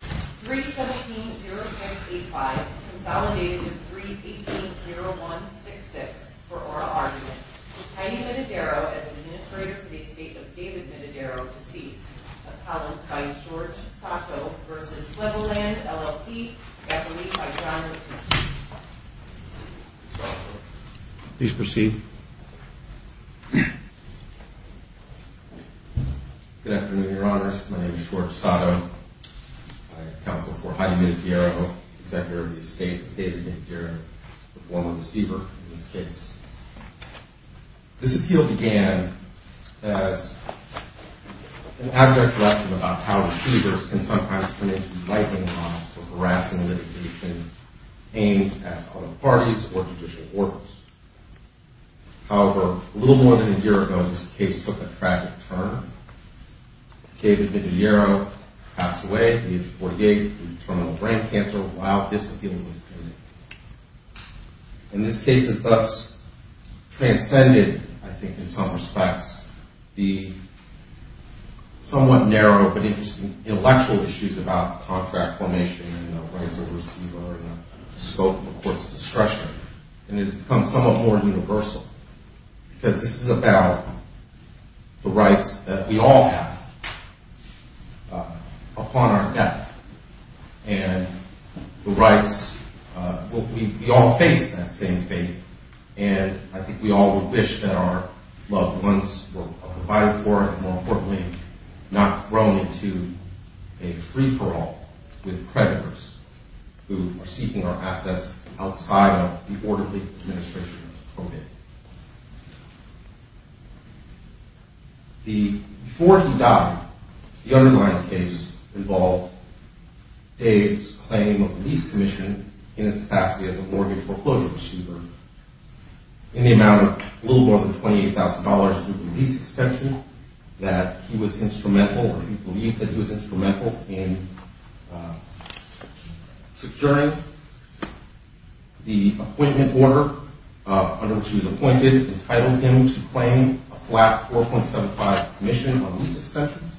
3-17-0685 Consolidated to 3-18-0166 for oral argument. Tiny Mididero as administrator for the estate of David Mididero, deceased. Appellant by George Sato versus Flevioland, LLC. Gathering by John McKenzie. Please proceed. Good afternoon, Your Honors. My name is George Sato. I am counsel for Heidi Mididero, executive of the estate of David Mididero, the former deceiver in this case. This appeal began as an abject lesson about how deceivers can sometimes turn into lightning rods for harassing and litigation aimed at other parties or judicial orders. However, a little more than a year ago, this case took a tragic turn. David Mididero passed away at the age of 48 due to terminal brain cancer while this appeal was pending. And this case has thus transcended, I think, in some respects, the somewhat narrow but interesting intellectual issues about contract formation and the rights of the receiver and the scope of a court's discretion. And it has become somewhat more universal because this is about the rights that we all have upon our death. And the rights – well, we all face that same fate, and I think we all would wish that our loved ones were provided for and, more importantly, not thrown into a free-for-all with creditors who are seeking our assets outside of the orderly administration of the court. Before he died, the underlying case involved Dave's claim of the lease commission in his capacity as a mortgage foreclosure receiver in the amount of a little more than $28,000 to the lease extension that he was instrumental or he believed that he was instrumental in securing the appointment order under which he was appointed, entitled him to claim a flat $4.75 commission on lease extensions.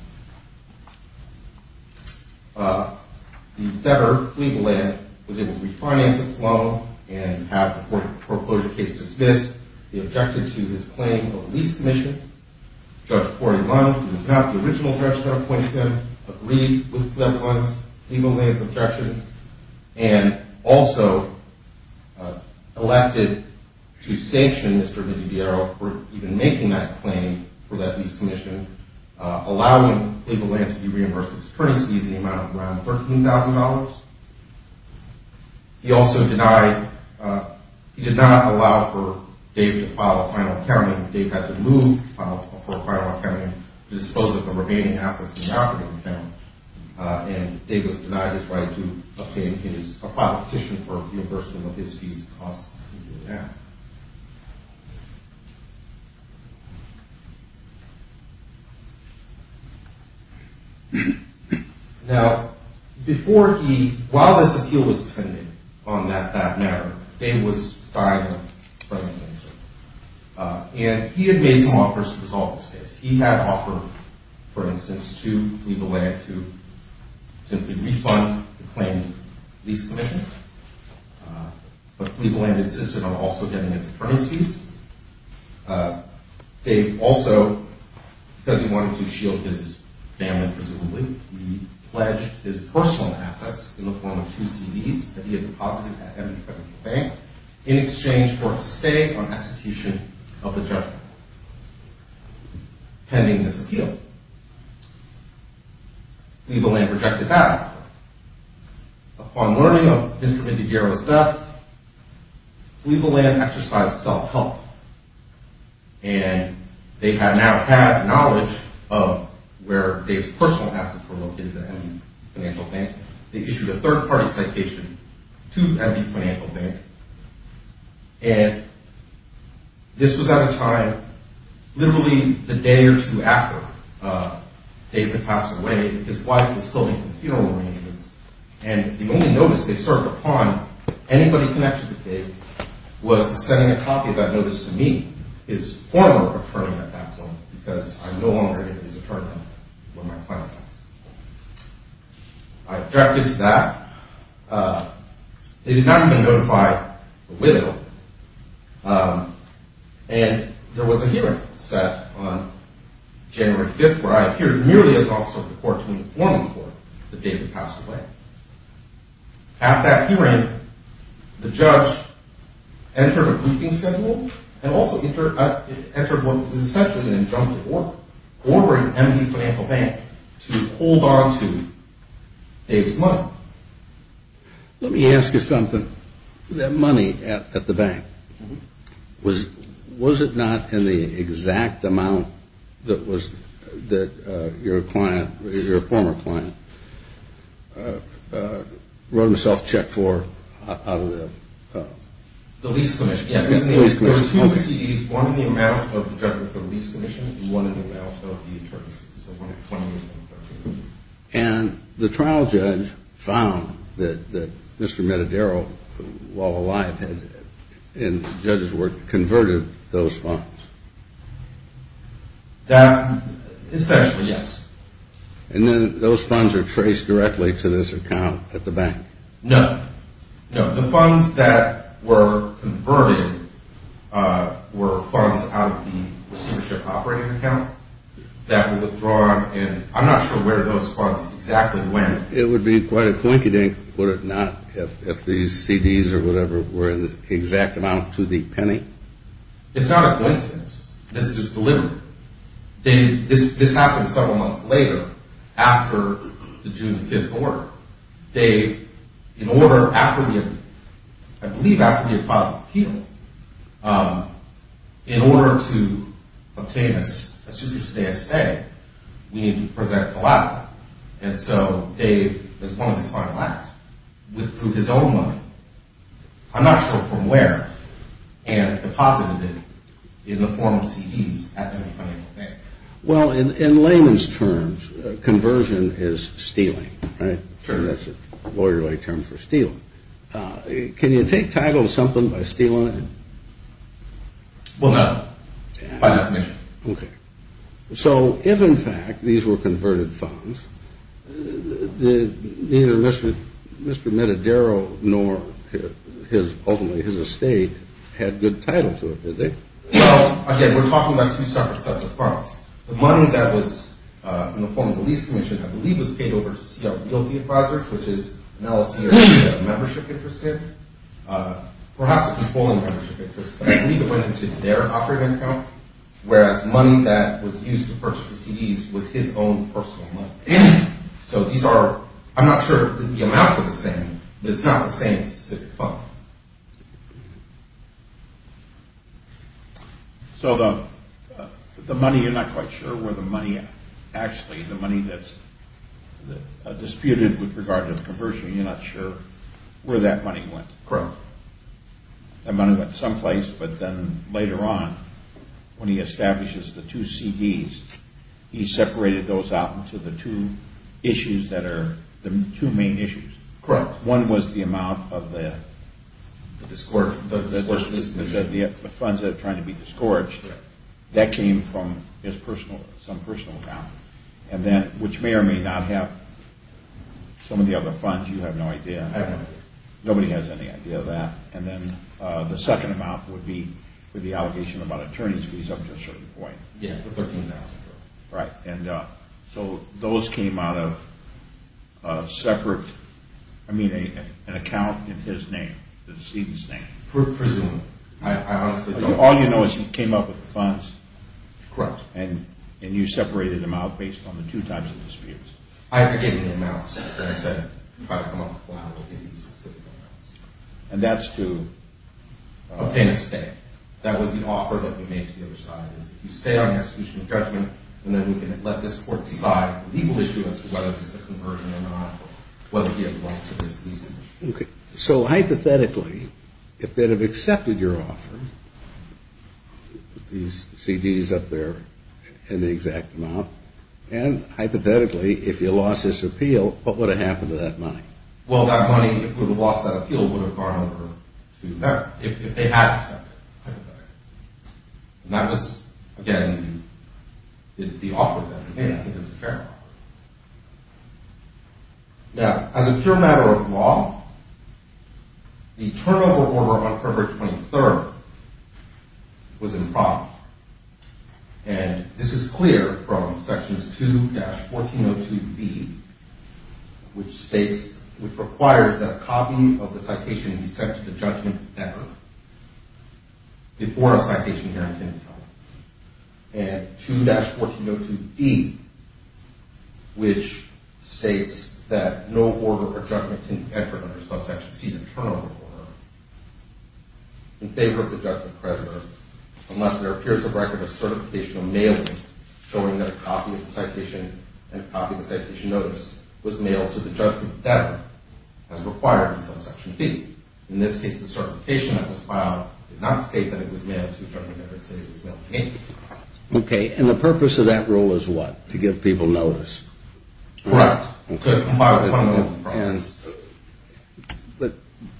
The debtor, Cleveland, was able to refinance his loan and have the foreclosure case dismissed. He objected to his claim of the lease commission. Judge Cory Lund, who was not the original judge that appointed him, agreed with Cleveland's objection and also elected to sanction Mr. Vidiviero for even making that claim for that lease commission, allowing Cleveland Land to be reimbursed with attorney's fees in the amount of around $13,000. He also denied – he did not allow for Dave to file a final accounting. Dave had to move for a final accounting to dispose of the remaining assets in the operating account, and Dave was denied his right to file a petition for reimbursement of his fees. Now, before he – while this appeal was pending on that matter, Dave was fired by the minister, and he had made some offers to resolve this case. He had offered, for instance, to Cleveland Land to simply refund the claimed lease commission, but Cleveland Land insisted on also getting its attorney's fees. Dave also, because he wanted to shield his family, presumably, he pledged his personal assets in the form of two CDs that he had deposited at every credit bank in exchange for a stay on execution of the judgment. This was pending this appeal. Cleveland Land rejected that. Upon learning of Mr. Vidiviero's death, Cleveland Land exercised self-help, and they now had knowledge of where Dave's personal assets were located at every financial bank. They issued a third-party citation to every financial bank, and this was at a time literally the day or two after Dave had passed away. His wife was still making funeral arrangements, and the only notice they served upon anybody connected to Dave was sending a copy of that notice to me, his former attorney at that point, because I'm no longer his attorney. I objected to that. They did not even notify the widow, and there was a hearing set on January 5th where I appeared merely as an officer of the court to inform the court the day he passed away. At that hearing, the judge entered a briefing schedule and also entered what was essentially an injunctive order, ordering MD Financial Bank to hold on to Dave's money. Let me ask you something. That money at the bank, was it not in the exact amount that your client, your former client, wrote himself a check for out of the lease commission? There were two CDs, one in the amount of the check for the lease commission and one in the amount of the attorneys. And the trial judge found that Mr. Matadero, while alive, had, in the judge's words, converted those funds? Essentially, yes. And then those funds are traced directly to this account at the bank? No, no. The funds that were converted were funds out of the receivership operating account that were withdrawn, and I'm not sure where those funds exactly went. It would be quite a coincidence, would it not, if these CDs or whatever were in the exact amount to the penny? It's not a coincidence. This is deliberate. This happened several months later, after the June 5th order. Dave, in order, after we had, I believe after we had filed the appeal, in order to obtain a superstitious say, we needed to present a law. And so Dave, as one of his final acts, withdrew his own money. I'm not sure from where, and deposited it in the form of CDs at the bank. Well, in layman's terms, conversion is stealing, right? Sure. That's a lawyerly term for stealing. Can you take title to something by stealing it? Well, no. By definition. Okay. So if, in fact, these were converted funds, neither Mr. Metadero nor his, ultimately his estate, had good title to it, did they? Well, again, we're talking about two separate sets of funds. The money that was in the form of a lease commission, I believe, was paid over to Seattle Guilty Advisers, which is an LLC or a membership interest. Perhaps a controlling membership interest, but I believe it went into their operating account, whereas money that was used to purchase the CDs was his own personal money. So these are, I'm not sure that the amounts are the same, but it's not the same specific fund. So the money, you're not quite sure where the money actually, the money that's disputed with regard to the conversion, you're not sure where that money went. Correct. That money went someplace, but then later on, when he establishes the two CDs, he separated those out into the two issues that are, the two main issues. Correct. One was the amount of the funds that are trying to be disgorged. That came from his personal, some personal account. And then, which may or may not have some of the other funds, you have no idea. I have no idea. Nobody has any idea of that. And then the second amount would be for the allegation about attorney's fees up to a certain point. Yeah, the $13,000. Right. And so those came out of separate, I mean, an account in his name, the decedent's name. Presumably. All you know is he came up with the funds. Correct. And you separated them out based on the two types of disputes. I gave him the amounts. I said, try to come up with a lot of specific amounts. And that's to? Obtain a stay. That was the offer that we made to the other side, is if you stay on the execution of judgment, and then we can let this court decide the legal issue as to whether this is a conversion or not, whether we have a right to this decedent. Okay. So, hypothetically, if they'd have accepted your offer, these CDs up there and the exact amount, and, hypothetically, if you lost this appeal, what would have happened to that money? Well, that money, if it would have lost that appeal, would have gone over to them, if they had accepted it, hypothetically. And that was, again, the offer that we made, I think, as a fair offer. Now, as a pure matter of law, the turnover order on February 23rd was in prompt. And this is clear from Sections 2-1402B, which states, which requires that a copy of the citation be sent to the judgment never, before a citation can be held. And 2-1402D, which states that no order or judgment can be entered under subsection C, the turnover order, in favor of the judgment precedent, unless there appears a record of certification of mailing, showing that a copy of the citation and a copy of the citation notice was mailed to the judgment that has required subsection C. In this case, the certification that was filed did not state that it was mailed to the judgment that it stated it was mailed to me. Okay. And the purpose of that rule is what? To give people notice. Correct. But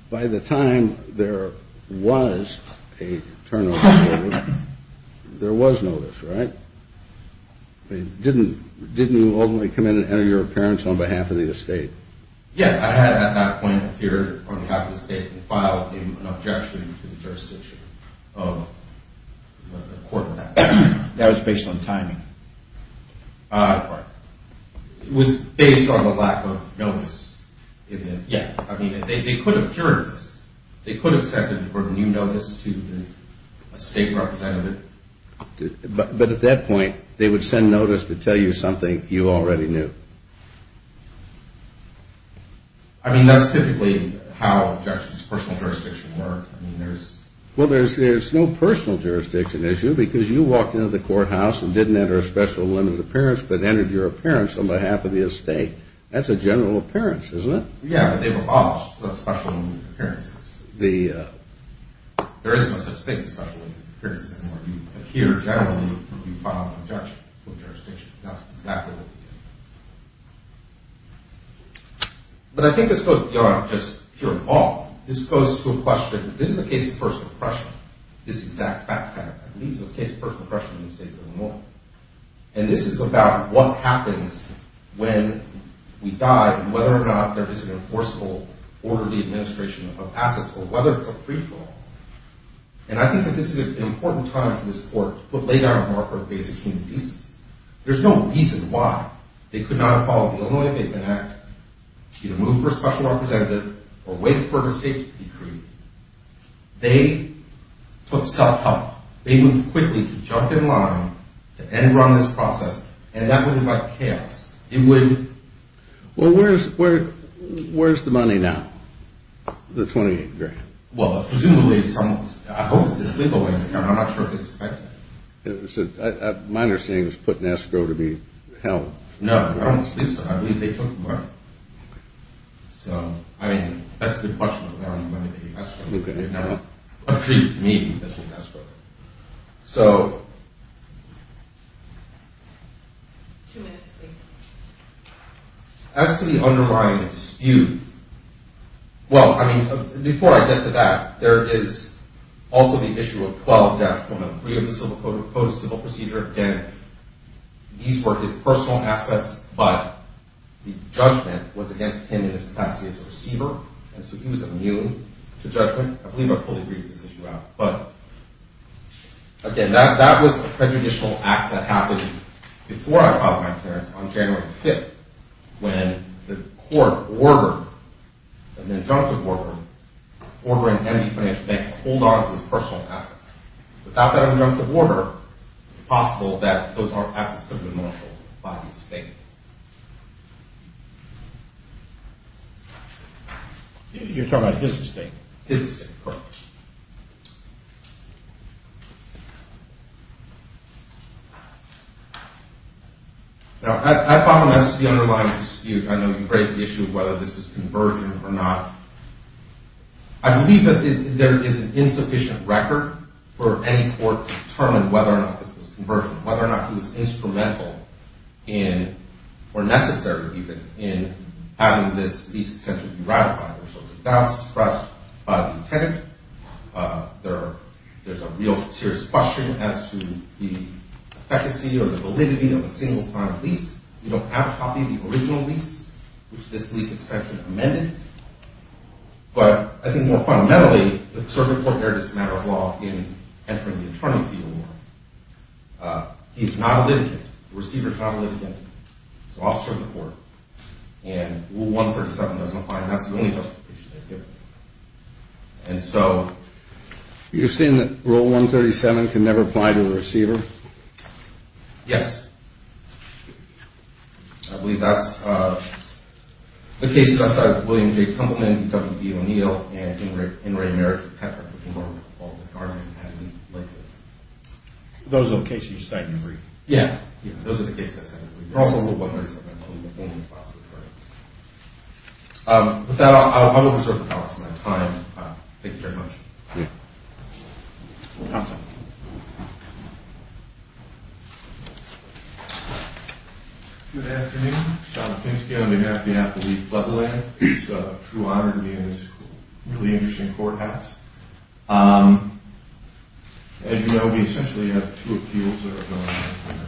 by the time there was a turnover order, there was notice, right? Didn't you ultimately come in and enter your appearance on behalf of the estate? Yes, I had at that point appeared on behalf of the estate and filed an objection to the jurisdiction of the court. That was based on timing? It was based on the lack of notice. Yeah. I mean, they could have cured this. They could have sent it for a new notice to the estate representative. But at that point, they would send notice to tell you something you already knew? I mean, that's typically how a judge's personal jurisdiction works. Well, there's no personal jurisdiction issue because you walked into the courthouse and didn't enter a special limited appearance but entered your appearance on behalf of the estate. That's a general appearance, isn't it? Yeah, but they abolished special limited appearances. There is no such thing as special limited appearances anymore. You appear generally, you file an objection to the jurisdiction. That's exactly what they did. But I think this goes beyond just pure law. This goes to a question, this is a case of personal oppression. This exact fact, I believe, is a case of personal oppression in the state of Illinois. And this is about what happens when we die and whether or not there is an enforceable orderly administration of assets or whether it's a free-for-all. And I think that this is an important time for this court to lay down a marker of basic human decency. There's no reason why they could not have followed the Illinois Abatement Act, either moved for a special representative or waited for an estate to be created. They took self-help. They moved quickly to jump in line, to end-run this process, and that would have led to chaos. It would have... Well, where's the money now, the 28 grand? Well, presumably some... I hope it's in a legal way, Mr. Chairman. I'm not sure if they expect it. My understanding is put in escrow to be held. No, I don't believe so. I believe they took the money. So, I mean, that's a good question of whether or not they escrowed it. No, no. I believe, to me, that they escrowed it. So... Two minutes, please. As to the underlying dispute, well, I mean, before I get to that, there is also the issue of 12-103 of the Civil Code, the Code of Civil Procedure. Again, these were his personal assets, but the judgment was against him in his capacity as a receiver, and so he was immune to judgment. I believe I fully agreed with this issue. But, again, that was a prejudicial act that happened before I filed my clearance on January 5th, when the court ordered, an injunctive order, ordering any financial bank to hold on to his personal assets. Without that injunctive order, it's possible that those assets could have been mortgaged by his estate. You're talking about his estate? His estate, correct. Now, that problem has to do with the underlying dispute. I know you raised the issue of whether this is conversion or not. I believe that there is an insufficient record for any court to determine whether or not this was conversion, whether or not he was instrumental in, or necessary, even, in having this case essentially be ratified. So the doubts expressed by the attendant, there's a real serious question as to the efficacy or the validity of a single-sign lease. You don't have a copy of the original lease, which this lease extension amended. But I think more fundamentally, the circuit court there is a matter of law in entering the attorney fee award. He's not a litigant. The receiver is not a litigant. He's an officer of the court. And Rule 137 doesn't apply, and that's the only justification they're given. And so... You're saying that Rule 137 can never apply to a receiver? Yes. I believe that's... The cases outside of William J. Tumbleman, W. E. O'Neill, and In Ray Merritt, Those are the cases you're saying agree? Yeah, those are the cases I'm saying agree. Also, Rule 137 only applies to attorneys. With that, I will reserve the balance of my time. Thank you very much. You're welcome. Good afternoon. John Kinski on behalf of the Appellate Leveling. It's a true honor to be in this really interesting courthouse. As you know, we essentially have two appeals that are going on.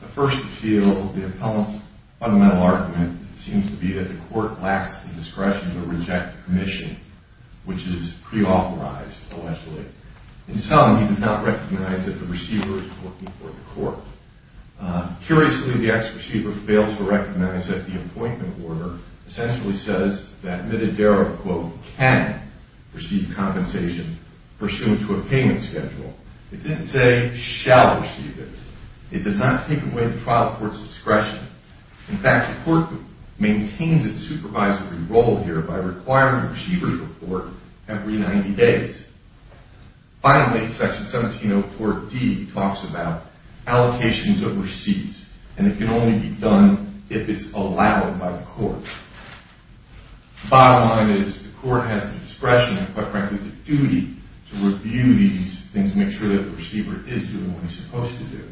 The first appeal, the appellant's fundamental argument, seems to be that the court lacks the discretion to reject the commission, which is pre-authorized, allegedly. In sum, he does not recognize that the receiver is working for the court. Curiously, the ex-receiver fails to recognize that the appointment order essentially says that Mitadero, quote, can receive compensation pursuant to a payment schedule. It didn't say shall receive it. It does not take away the trial court's discretion. In fact, the court maintains its supervisory role here by requiring the receiver's report every 90 days. Finally, Section 1704D talks about allocations overseas, and it can only be done if it's allowed by the court. Bottom line is the court has the discretion, and quite frankly, the duty to review these things, make sure that the receiver is doing what he's supposed to do.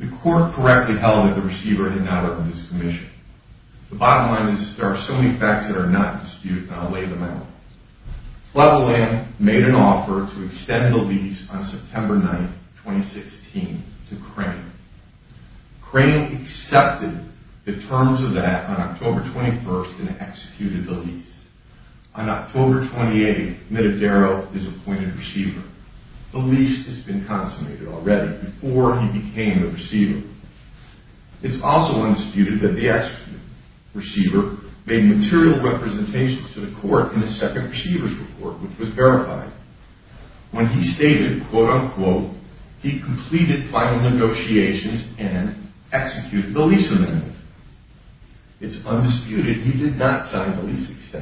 The court correctly held that the receiver had not opened his commission. The bottom line is there are so many facts that are not disputed, and I'll lay them out. Cleveland made an offer to extend the lease on September 9, 2016, to Crane. Crane accepted the terms of that on October 21 and executed the lease. On October 28, Mitadero is appointed receiver. The lease has been consummated already before he became a receiver. It's also undisputed that the ex-receiver made material representations to the court in his second receiver's report, which was verified. When he stated, quote, unquote, he completed final negotiations and executed the lease amendment. It's undisputed he did not sign the lease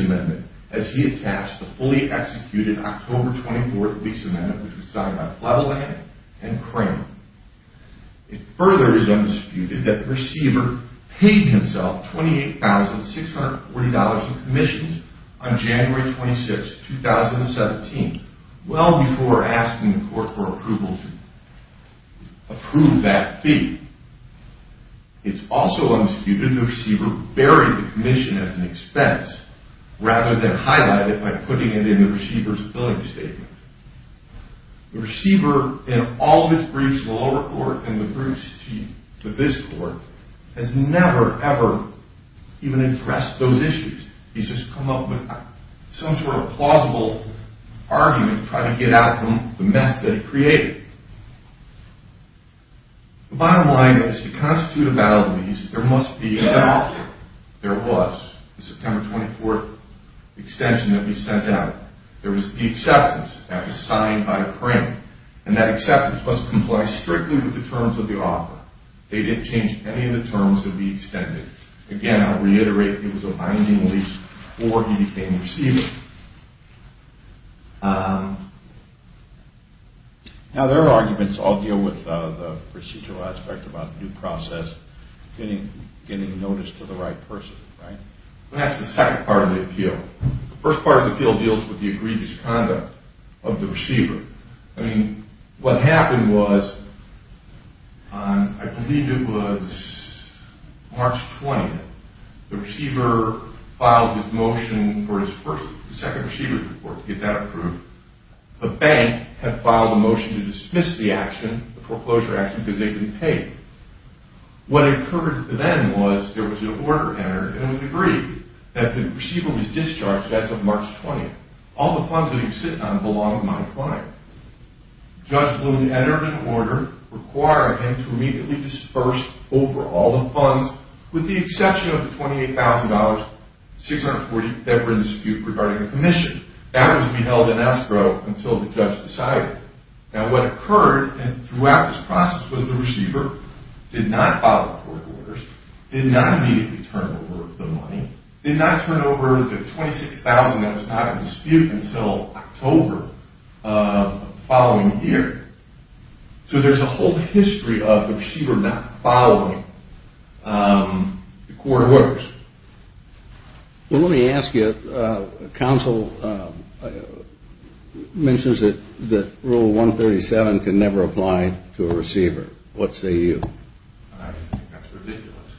amendment, as he had passed the fully executed October 24th lease amendment, which was signed by Cleveland and Crane. It further is undisputed that the receiver paid himself $28,640 in commissions on January 26, 2017, well before asking the court for approval to approve that fee. It's also undisputed the receiver buried the commission as an expense, rather than highlight it by putting it in the receiver's billing statement. The receiver, in all of his briefs to the lower court and the briefs to the bis court, has never, ever even addressed those issues. He's just come up with some sort of plausible argument to try to get out of the mess that he created. The bottom line is, to constitute a valid lease, there must be an offer. There was. The September 24th extension that we sent out. There was the acceptance that was signed by Crane, and that acceptance must comply strictly with the terms of the offer. They didn't change any of the terms of the extension. Again, I'll reiterate, it was a binding lease before he became a receiver. Now, their arguments all deal with the procedural aspect about due process, getting notice to the right person, right? That's the second part of the appeal. The first part of the appeal deals with the egregious conduct of the receiver. I mean, what happened was, I believe it was March 20th, the receiver filed his motion for his second receiver's report to get that approved. The bank had filed a motion to dismiss the action, the foreclosure action, because they couldn't pay. What occurred then was, there was an order entered, and it was agreed that the receiver was discharged as of March 20th. All the funds that he was sitting on belonged to my client. Judge Bloom entered an order requiring him to immediately disperse over all the funds, with the exception of the $28,640 that were in dispute regarding the commission. That was to be held in escrow until the judge decided. Now, what occurred throughout this process was the receiver did not follow court orders, did not immediately turn over the money, did not turn over the $26,000 that was not in dispute until October of the following year. So there's a whole history of the receiver not following the court orders. Well, let me ask you, counsel mentions that Rule 137 can never apply to a receiver. What say you? I think that's ridiculous.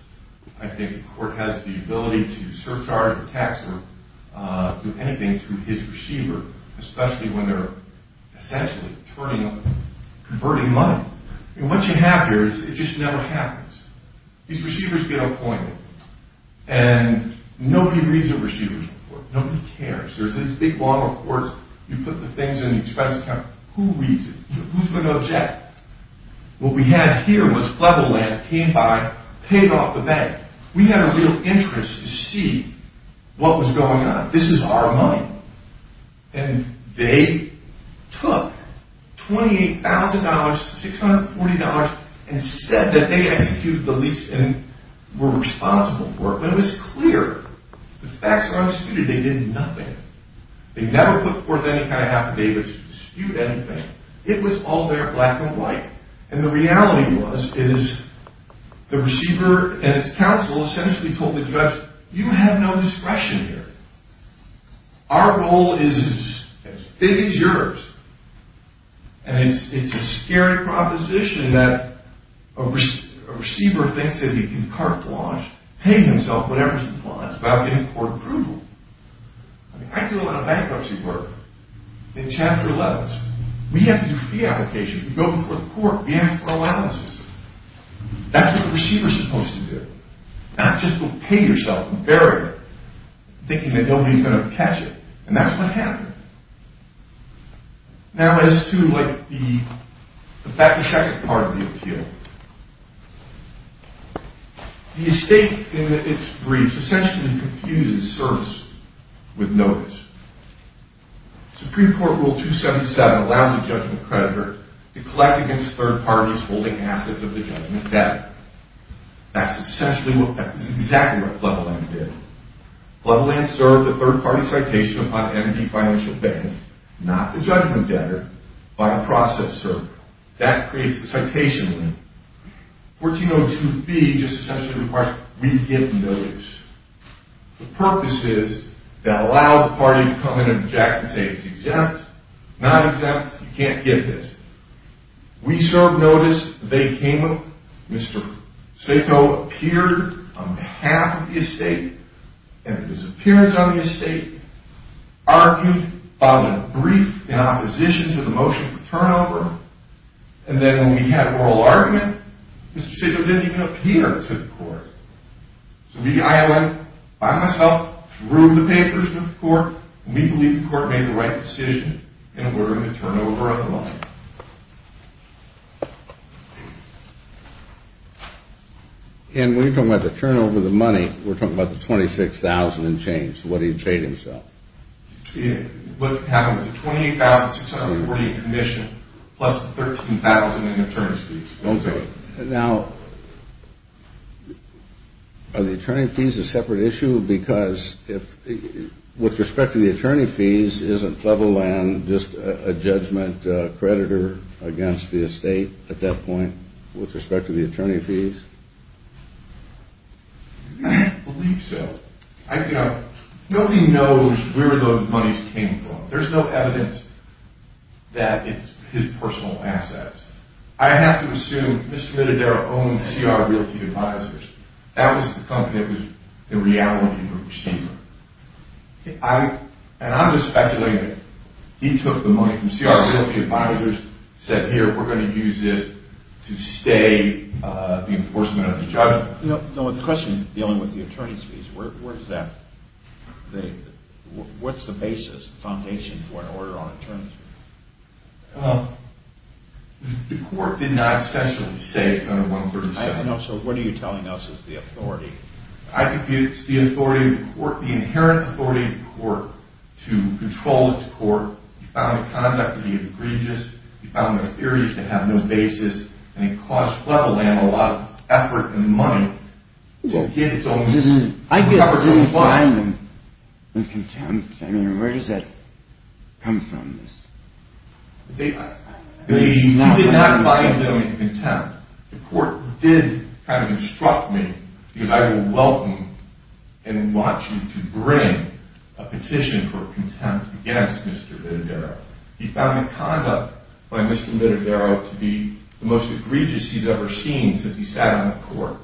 I think the court has the ability to surcharge or tax or do anything to his receiver, especially when they're essentially converting money. And what you have here is it just never happens. These receivers get appointed, and nobody reads the receiver's report. Nobody cares. There's these big long reports. You put the things in the expense account. Who reads it? Who's going to object? What we had here was Cleveland came by, paid off the bank. We had a real interest to see what was going on. This is our money. And they took $28,000, $640, and said that they executed the lease and were responsible for it. But it was clear the facts are undisputed. They did nothing. They never put forth any kind of affidavits to dispute anything. It was all there black and white. And the reality was is the receiver and its counsel essentially told the judge, you have no discretion here. Our role is as big as yours. And it's a scary proposition that a receiver thinks that he can carte blanche, pay himself whatever he wants without getting court approval. I do a lot of bankruptcy work in Chapter 11. We have to do fee applications. We go before the court. We ask for allowances. That's what the receiver is supposed to do. Not just go pay yourself and bury it, thinking that nobody is going to catch it. And that's what happened. Now as to the second part of the appeal, the estate in its brief essentially confuses service with notice. Supreme Court Rule 277 allows a judgment creditor to collect against third parties holding assets of the judgment debt. That's essentially what Flevoland did. Flevoland served a third party citation upon entity financial bank, not the judgment debtor, by a process server. That creates a citation. 1402B just essentially requires we give notice. The purpose is to allow the party to come in and object and say it's exempt, not exempt, you can't give this. We served notice. They came up. Mr. Stato appeared on behalf of the estate and his appearance on the estate, argued, filed a brief in opposition to the motion for turnover, and then when we had oral argument, Mr. Stato didn't even appear to the court. We believe the court made the right decision and we're going to turn over the money. And when you're talking about the turnover of the money, we're talking about the $26,000 and change, what he paid himself. What happened was the $28,600 was the commission plus the $13,000 in attorney's fees. Now are the attorney's fees a separate issue? Because with respect to the attorney fees, isn't Cleveland just a judgment creditor against the estate at that point with respect to the attorney fees? I believe so. Nobody knows where those monies came from. There's no evidence that it's his personal assets. I have to assume Mr. Minadero owned CR Realty Advisors. That was the company that was in reality the receiver. And I'm just speculating. He took the money from CR Realty Advisors, said, here, we're going to use this to stay the enforcement of the judgment. No, the question is dealing with the attorney's fees. Where is that? What's the basis, the foundation for an order on attorney's fees? The court did not essentially say it's under 137. I know. So what are you telling us is the authority? I think it's the authority of the court, the inherent authority of the court to control its court. You found the conduct to be egregious. You found the theories to have no basis. And it cost Cleveland a lot of effort and money to get its own coverage. I didn't find them in contempt. I mean, where does that come from? You did not find them in contempt. The court did kind of instruct me, because I will welcome and want you to bring a petition for contempt against Mr. Vitadaro. He found the conduct by Mr. Vitadaro to be the most egregious he's ever seen since he sat on the court.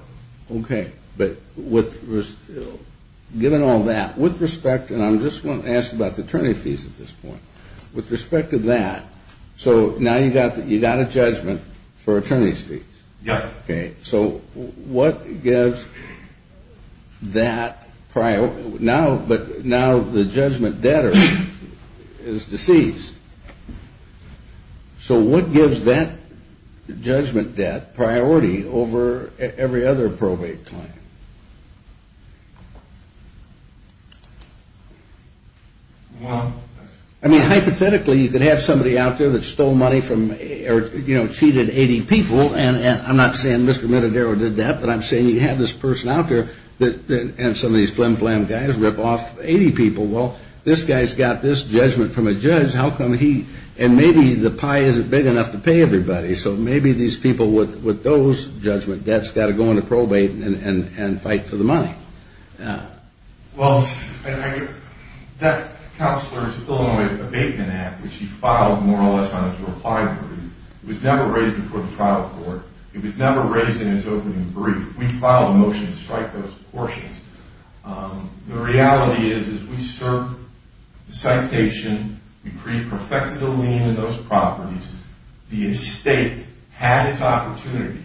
Okay. But given all that, with respect, and I'm just going to ask about the attorney fees at this point, with respect to that, so now you've got a judgment for attorney fees? Yes. Okay. So what gives that priority? Now the judgment debtor is deceased. So what gives that judgment debt priority over every other probate claim? I mean, hypothetically, you could have somebody out there that stole money from or cheated 80 people, and I'm not saying Mr. Vitadaro did that, but I'm saying you have this person out there and some of these flim-flam guys rip off 80 people. Well, this guy's got this judgment from a judge. How come he, and maybe the pie isn't big enough to pay everybody, so maybe these people with those judgment debts got to go on a probate and fight for the money? Well, that's Counselor's Illinois Abatement Act, which he filed more or less on his reply. It was never raised before the trial court. It was never raised in its opening brief. We filed a motion to strike those portions. The reality is we served the citation. We pre-perfected the lien in those properties. The estate had its opportunity.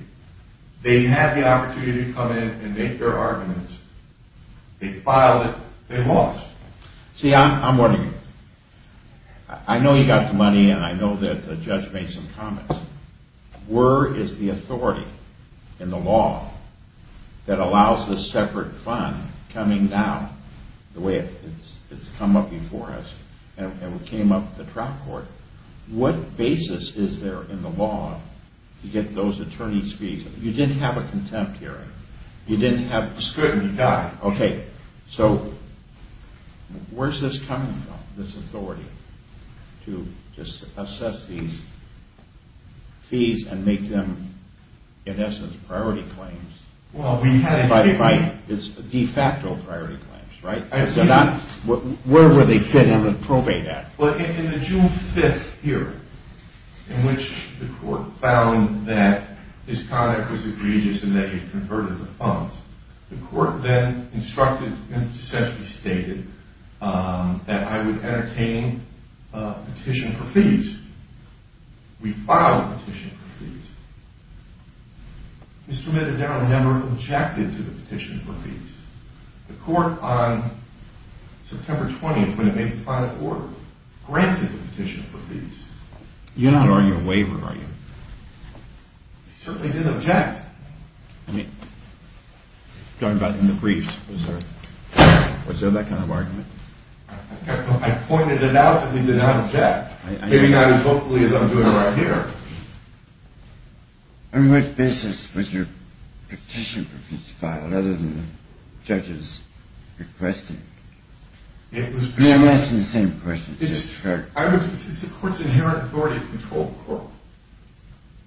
They had the opportunity to come in and make their arguments. They filed it. They lost. See, I'm wondering. I know you got the money, and I know that the judge made some comments. Where is the authority in the law that allows this separate fund coming down the way it's come up before us and came up at the trial court? What basis is there in the law to get those attorneys' fees? You didn't have a contempt hearing. You didn't have a scrutiny. Okay, so where's this coming from, this authority, to just assess these fees and make them, in essence, priority claims? By the way, it's de facto priority claims, right? Where would they fit in the probate act? Well, in the June 5th hearing, in which the court found that his conduct was egregious and that he had converted the funds, the court then instructed and essentially stated that I would entertain a petition for fees. We filed a petition for fees. Mr. Mittadowne never objected to the petition for fees. The court on September 20th, when it made the final order, granted the petition for fees. You're not arguing a waiver, are you? He certainly did object. I mean, talking about in the briefs, was there that kind of argument? I pointed it out, but he did not object. Maybe not as vocally as I'm doing right here. On what basis was your petition for fees filed, other than the judge's request? I'm asking the same question. It's the court's inherent authority to control the court.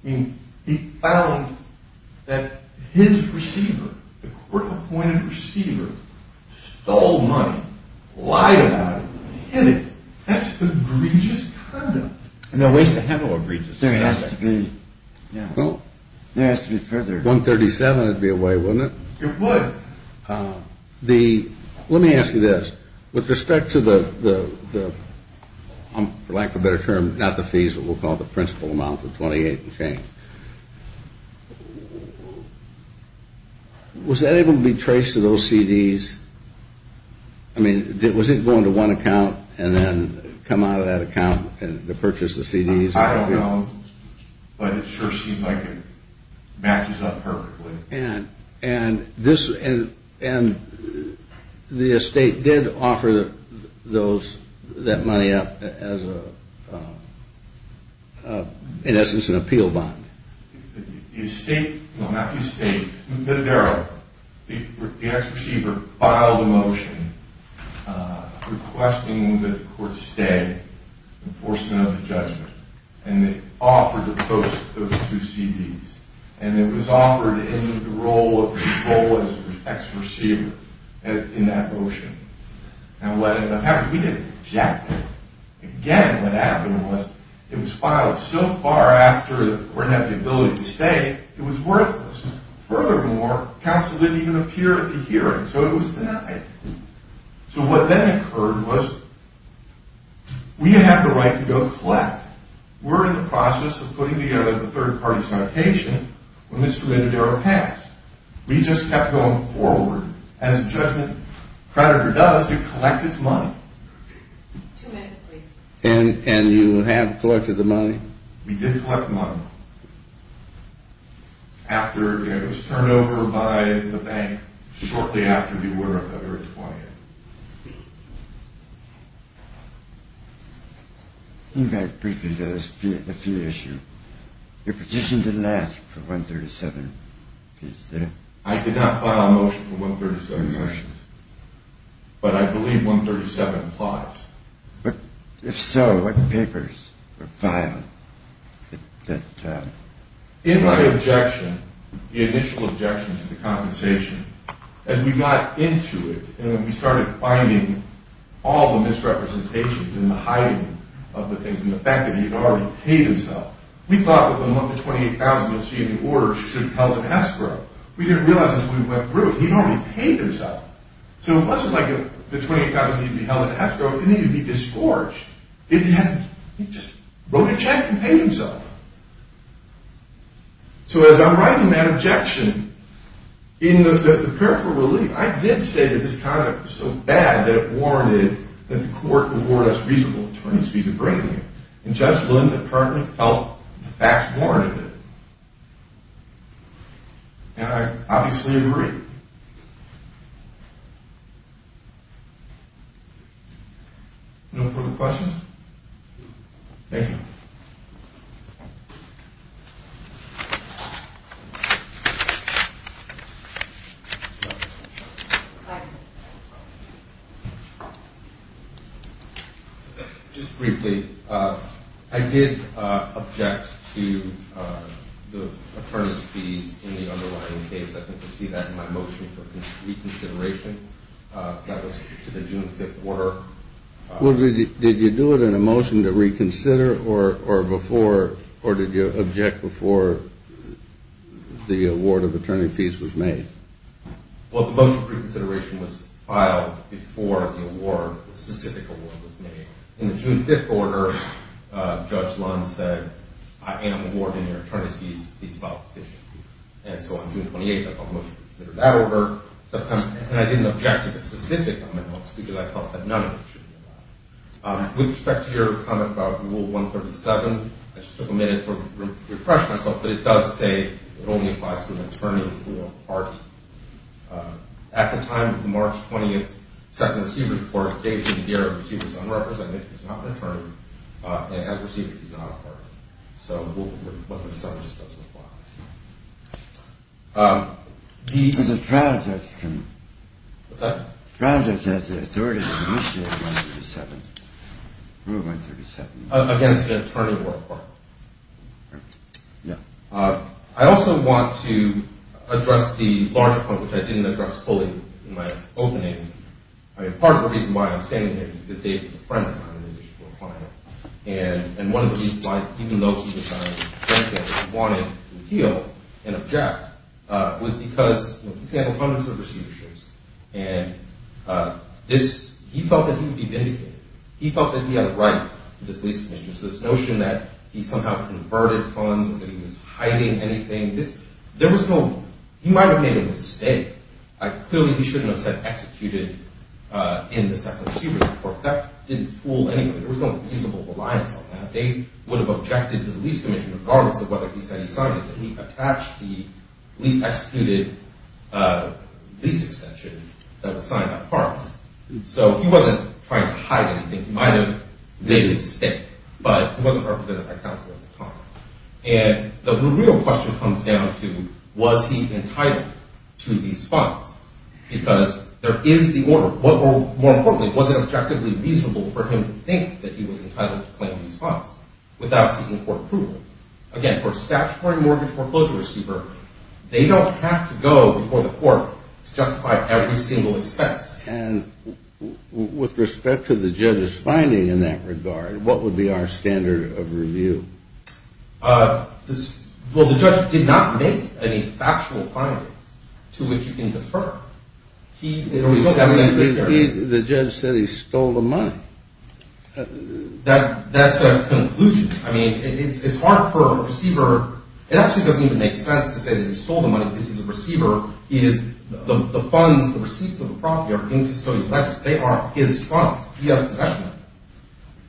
I mean, he found that his receiver, the court-appointed receiver, stole money, lied about it, hid it. That's egregious conduct. There are ways to handle egregious conduct. There has to be. There has to be further. $137,000 would be a way, wouldn't it? It would. Let me ask you this. With respect to the, for lack of a better term, not the fees, but we'll call it the principal amount, the $28,000 in change, was that able to be traced to those CDs? I mean, was it going to one account and then come out of that account to purchase the CDs? I don't know, but it sure seemed like it matches up perfectly. And the estate did offer that money up as, in essence, an appeal bond. The estate, well, not the estate. The ex-receiver filed a motion requesting that the court stay, enforcement of the judgment. And they offered to post those two CDs. And it was offered in the role of the ex-receiver in that motion. And what happened, we didn't object. Again, what happened was, it was filed so far after the court had the ability to stay, it was worthless. Furthermore, counsel didn't even appear at the hearing, so it was denied. So what then occurred was, we have the right to go collect. We're in the process of putting together a third-party citation when Mr. Mendodero passed. We just kept going forward. As a judgment creditor does, they collect his money. Two minutes, please. And you have collected the money? We did collect the money. It was turned over by the bank shortly after the order of February 20th. Can you go back briefly to the fee issue? Your petition didn't ask for $137,000. I did not file a motion for $137,000. But I believe $137,000 applies. But if so, what papers were filed? In my objection, the initial objection to the compensation, as we got into it and we started finding all the misrepresentations and the hiding of the things and the fact that he had already paid himself, we thought that the $128,000 we were seeing in the order should have held an escrow. We didn't realize this when we went through it. He had already paid himself. So it wasn't like the $128,000 needed to be held in escrow. It needed to be disgorged. He just wrote a check and paid himself. So as I'm writing that objection, in the prayer for relief, I did say that this conduct was so bad that it warranted that the court would award us reasonable attorneys fees to bring him in. And Judge Linden apparently felt the facts warranted it. And I obviously agree. No further questions? Thank you. Thank you. Just briefly, I did object to the attorney's fees in the underlying case. I think you'll see that in my motion for reconsideration. That was to the June 5th order. Did you do it in a motion to reconsider or did you object before the award of attorney fees was made? Well, the motion for reconsideration was filed before the award, the specific award was made. In the June 5th order, Judge Lund said, I am awarding your attorney's fees. Please file a petition. And so on June 28th, I filed a motion to reconsider that order. And I didn't object to the specific amendments because I felt that none of it should be allowed. With respect to your comment about Rule 137, I just took a minute to refresh myself. But it does say it only applies to an attorney who is a party. At the time of the March 20th second receiver's report, David McGarrett, the receiver, is unrepresented. He's not an attorney. And as a receiver, he's not a party. So Rule 137 just doesn't apply. There's a transaction. What's that? Transaction of the authority to initiate Rule 137. Rule 137. Against an attorney or a party. Yeah. I also want to address the larger point, which I didn't address fully in my opening. I mean, part of the reason why I'm standing here is because David is a friend of mine. And one of the reasons why, even though he was a friend of mine, he wanted to appeal and object was because he's had opponents of receiverships. And this, he felt that he would be vindicated. He felt that he had a right to this lease commission. So this notion that he somehow converted funds or that he was hiding anything, there was no, he might have made a mistake. Clearly, he shouldn't have said executed in the second receiver's report. That didn't fool anyone. There was no reasonable reliance on that. They would have objected to the lease commission regardless of whether he said he signed it. But he attached the lease-executed lease extension that was signed by Parks. So he wasn't trying to hide anything. He might have made a mistake. But he wasn't represented by counsel at the time. And the real question comes down to, was he entitled to these funds? Because there is the order. More importantly, was it objectively reasonable for him to think that he was entitled to claim these funds without seeking court approval? Again, for a statutory mortgage foreclosure receiver, they don't have to go before the court to justify every single expense. And with respect to the judge's finding in that regard, what would be our standard of review? Well, the judge did not make any factual findings to which you can defer. The judge said he stole the money. That's a conclusion. I mean, it's hard for a receiver. It actually doesn't even make sense to say that he stole the money because he's a receiver. The funds, the receipts of the property are in custodial debtors. They are his funds. He has possession of them.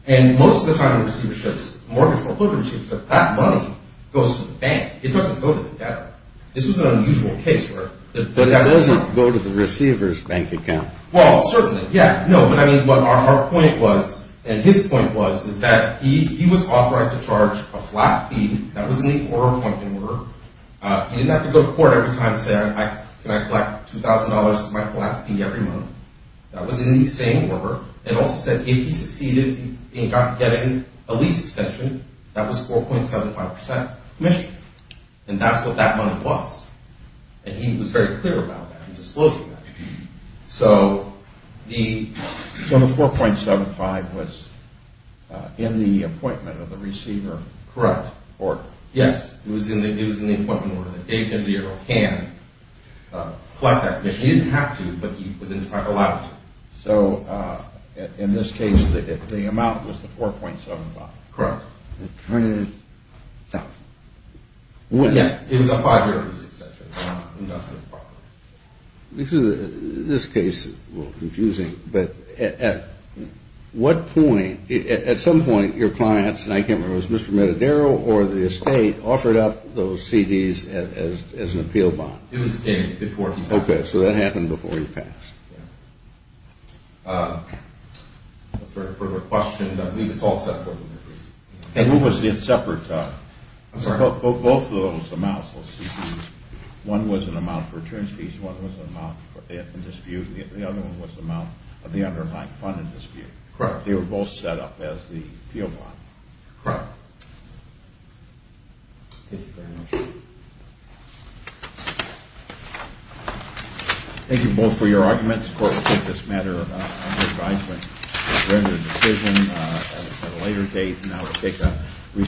And most of the time in receiverships, mortgage foreclosure receivership, that money goes to the bank. It doesn't go to the debtor. This was an unusual case. But it doesn't go to the receiver's bank account. Well, certainly. Yeah. No, but I mean, our point was, and his point was, is that he was authorized to charge a flat fee. That was in the order pointing order. He didn't have to go to court every time and say, can I collect $2,000 as my flat fee every month. That was in the same order. It also said if he succeeded in getting a lease extension, that was 4.75 percent commission. And that's what that money was. And he was very clear about that. He disclosed that. So the 4.75 was in the appointment of the receiver. Correct. Yes. It was in the appointment order. If he can collect that commission. He didn't have to, but he was allowed to. So in this case, the amount was the 4.75. Correct. $2,000. Yeah. It was a five-year lease extension. This case is a little confusing, but at what point, at some point, your clients, and I can't remember, was Mr. Matadero or the estate offered up those CDs as an appeal bond? It was the estate before he passed. Okay. So that happened before he passed. If there are further questions, I believe it's all separate. It was separate. I'm sorry. Both of those amounts, those CDs, one was an amount for returns fees, one was an amount in dispute, and the other one was the amount of the underlying fund in dispute. Correct. They were both set up as the appeal bond. Correct. Thank you very much. Thank you both for your arguments. The Court will take this matter under advisement and render a decision at a later date. Now we'll take a recess.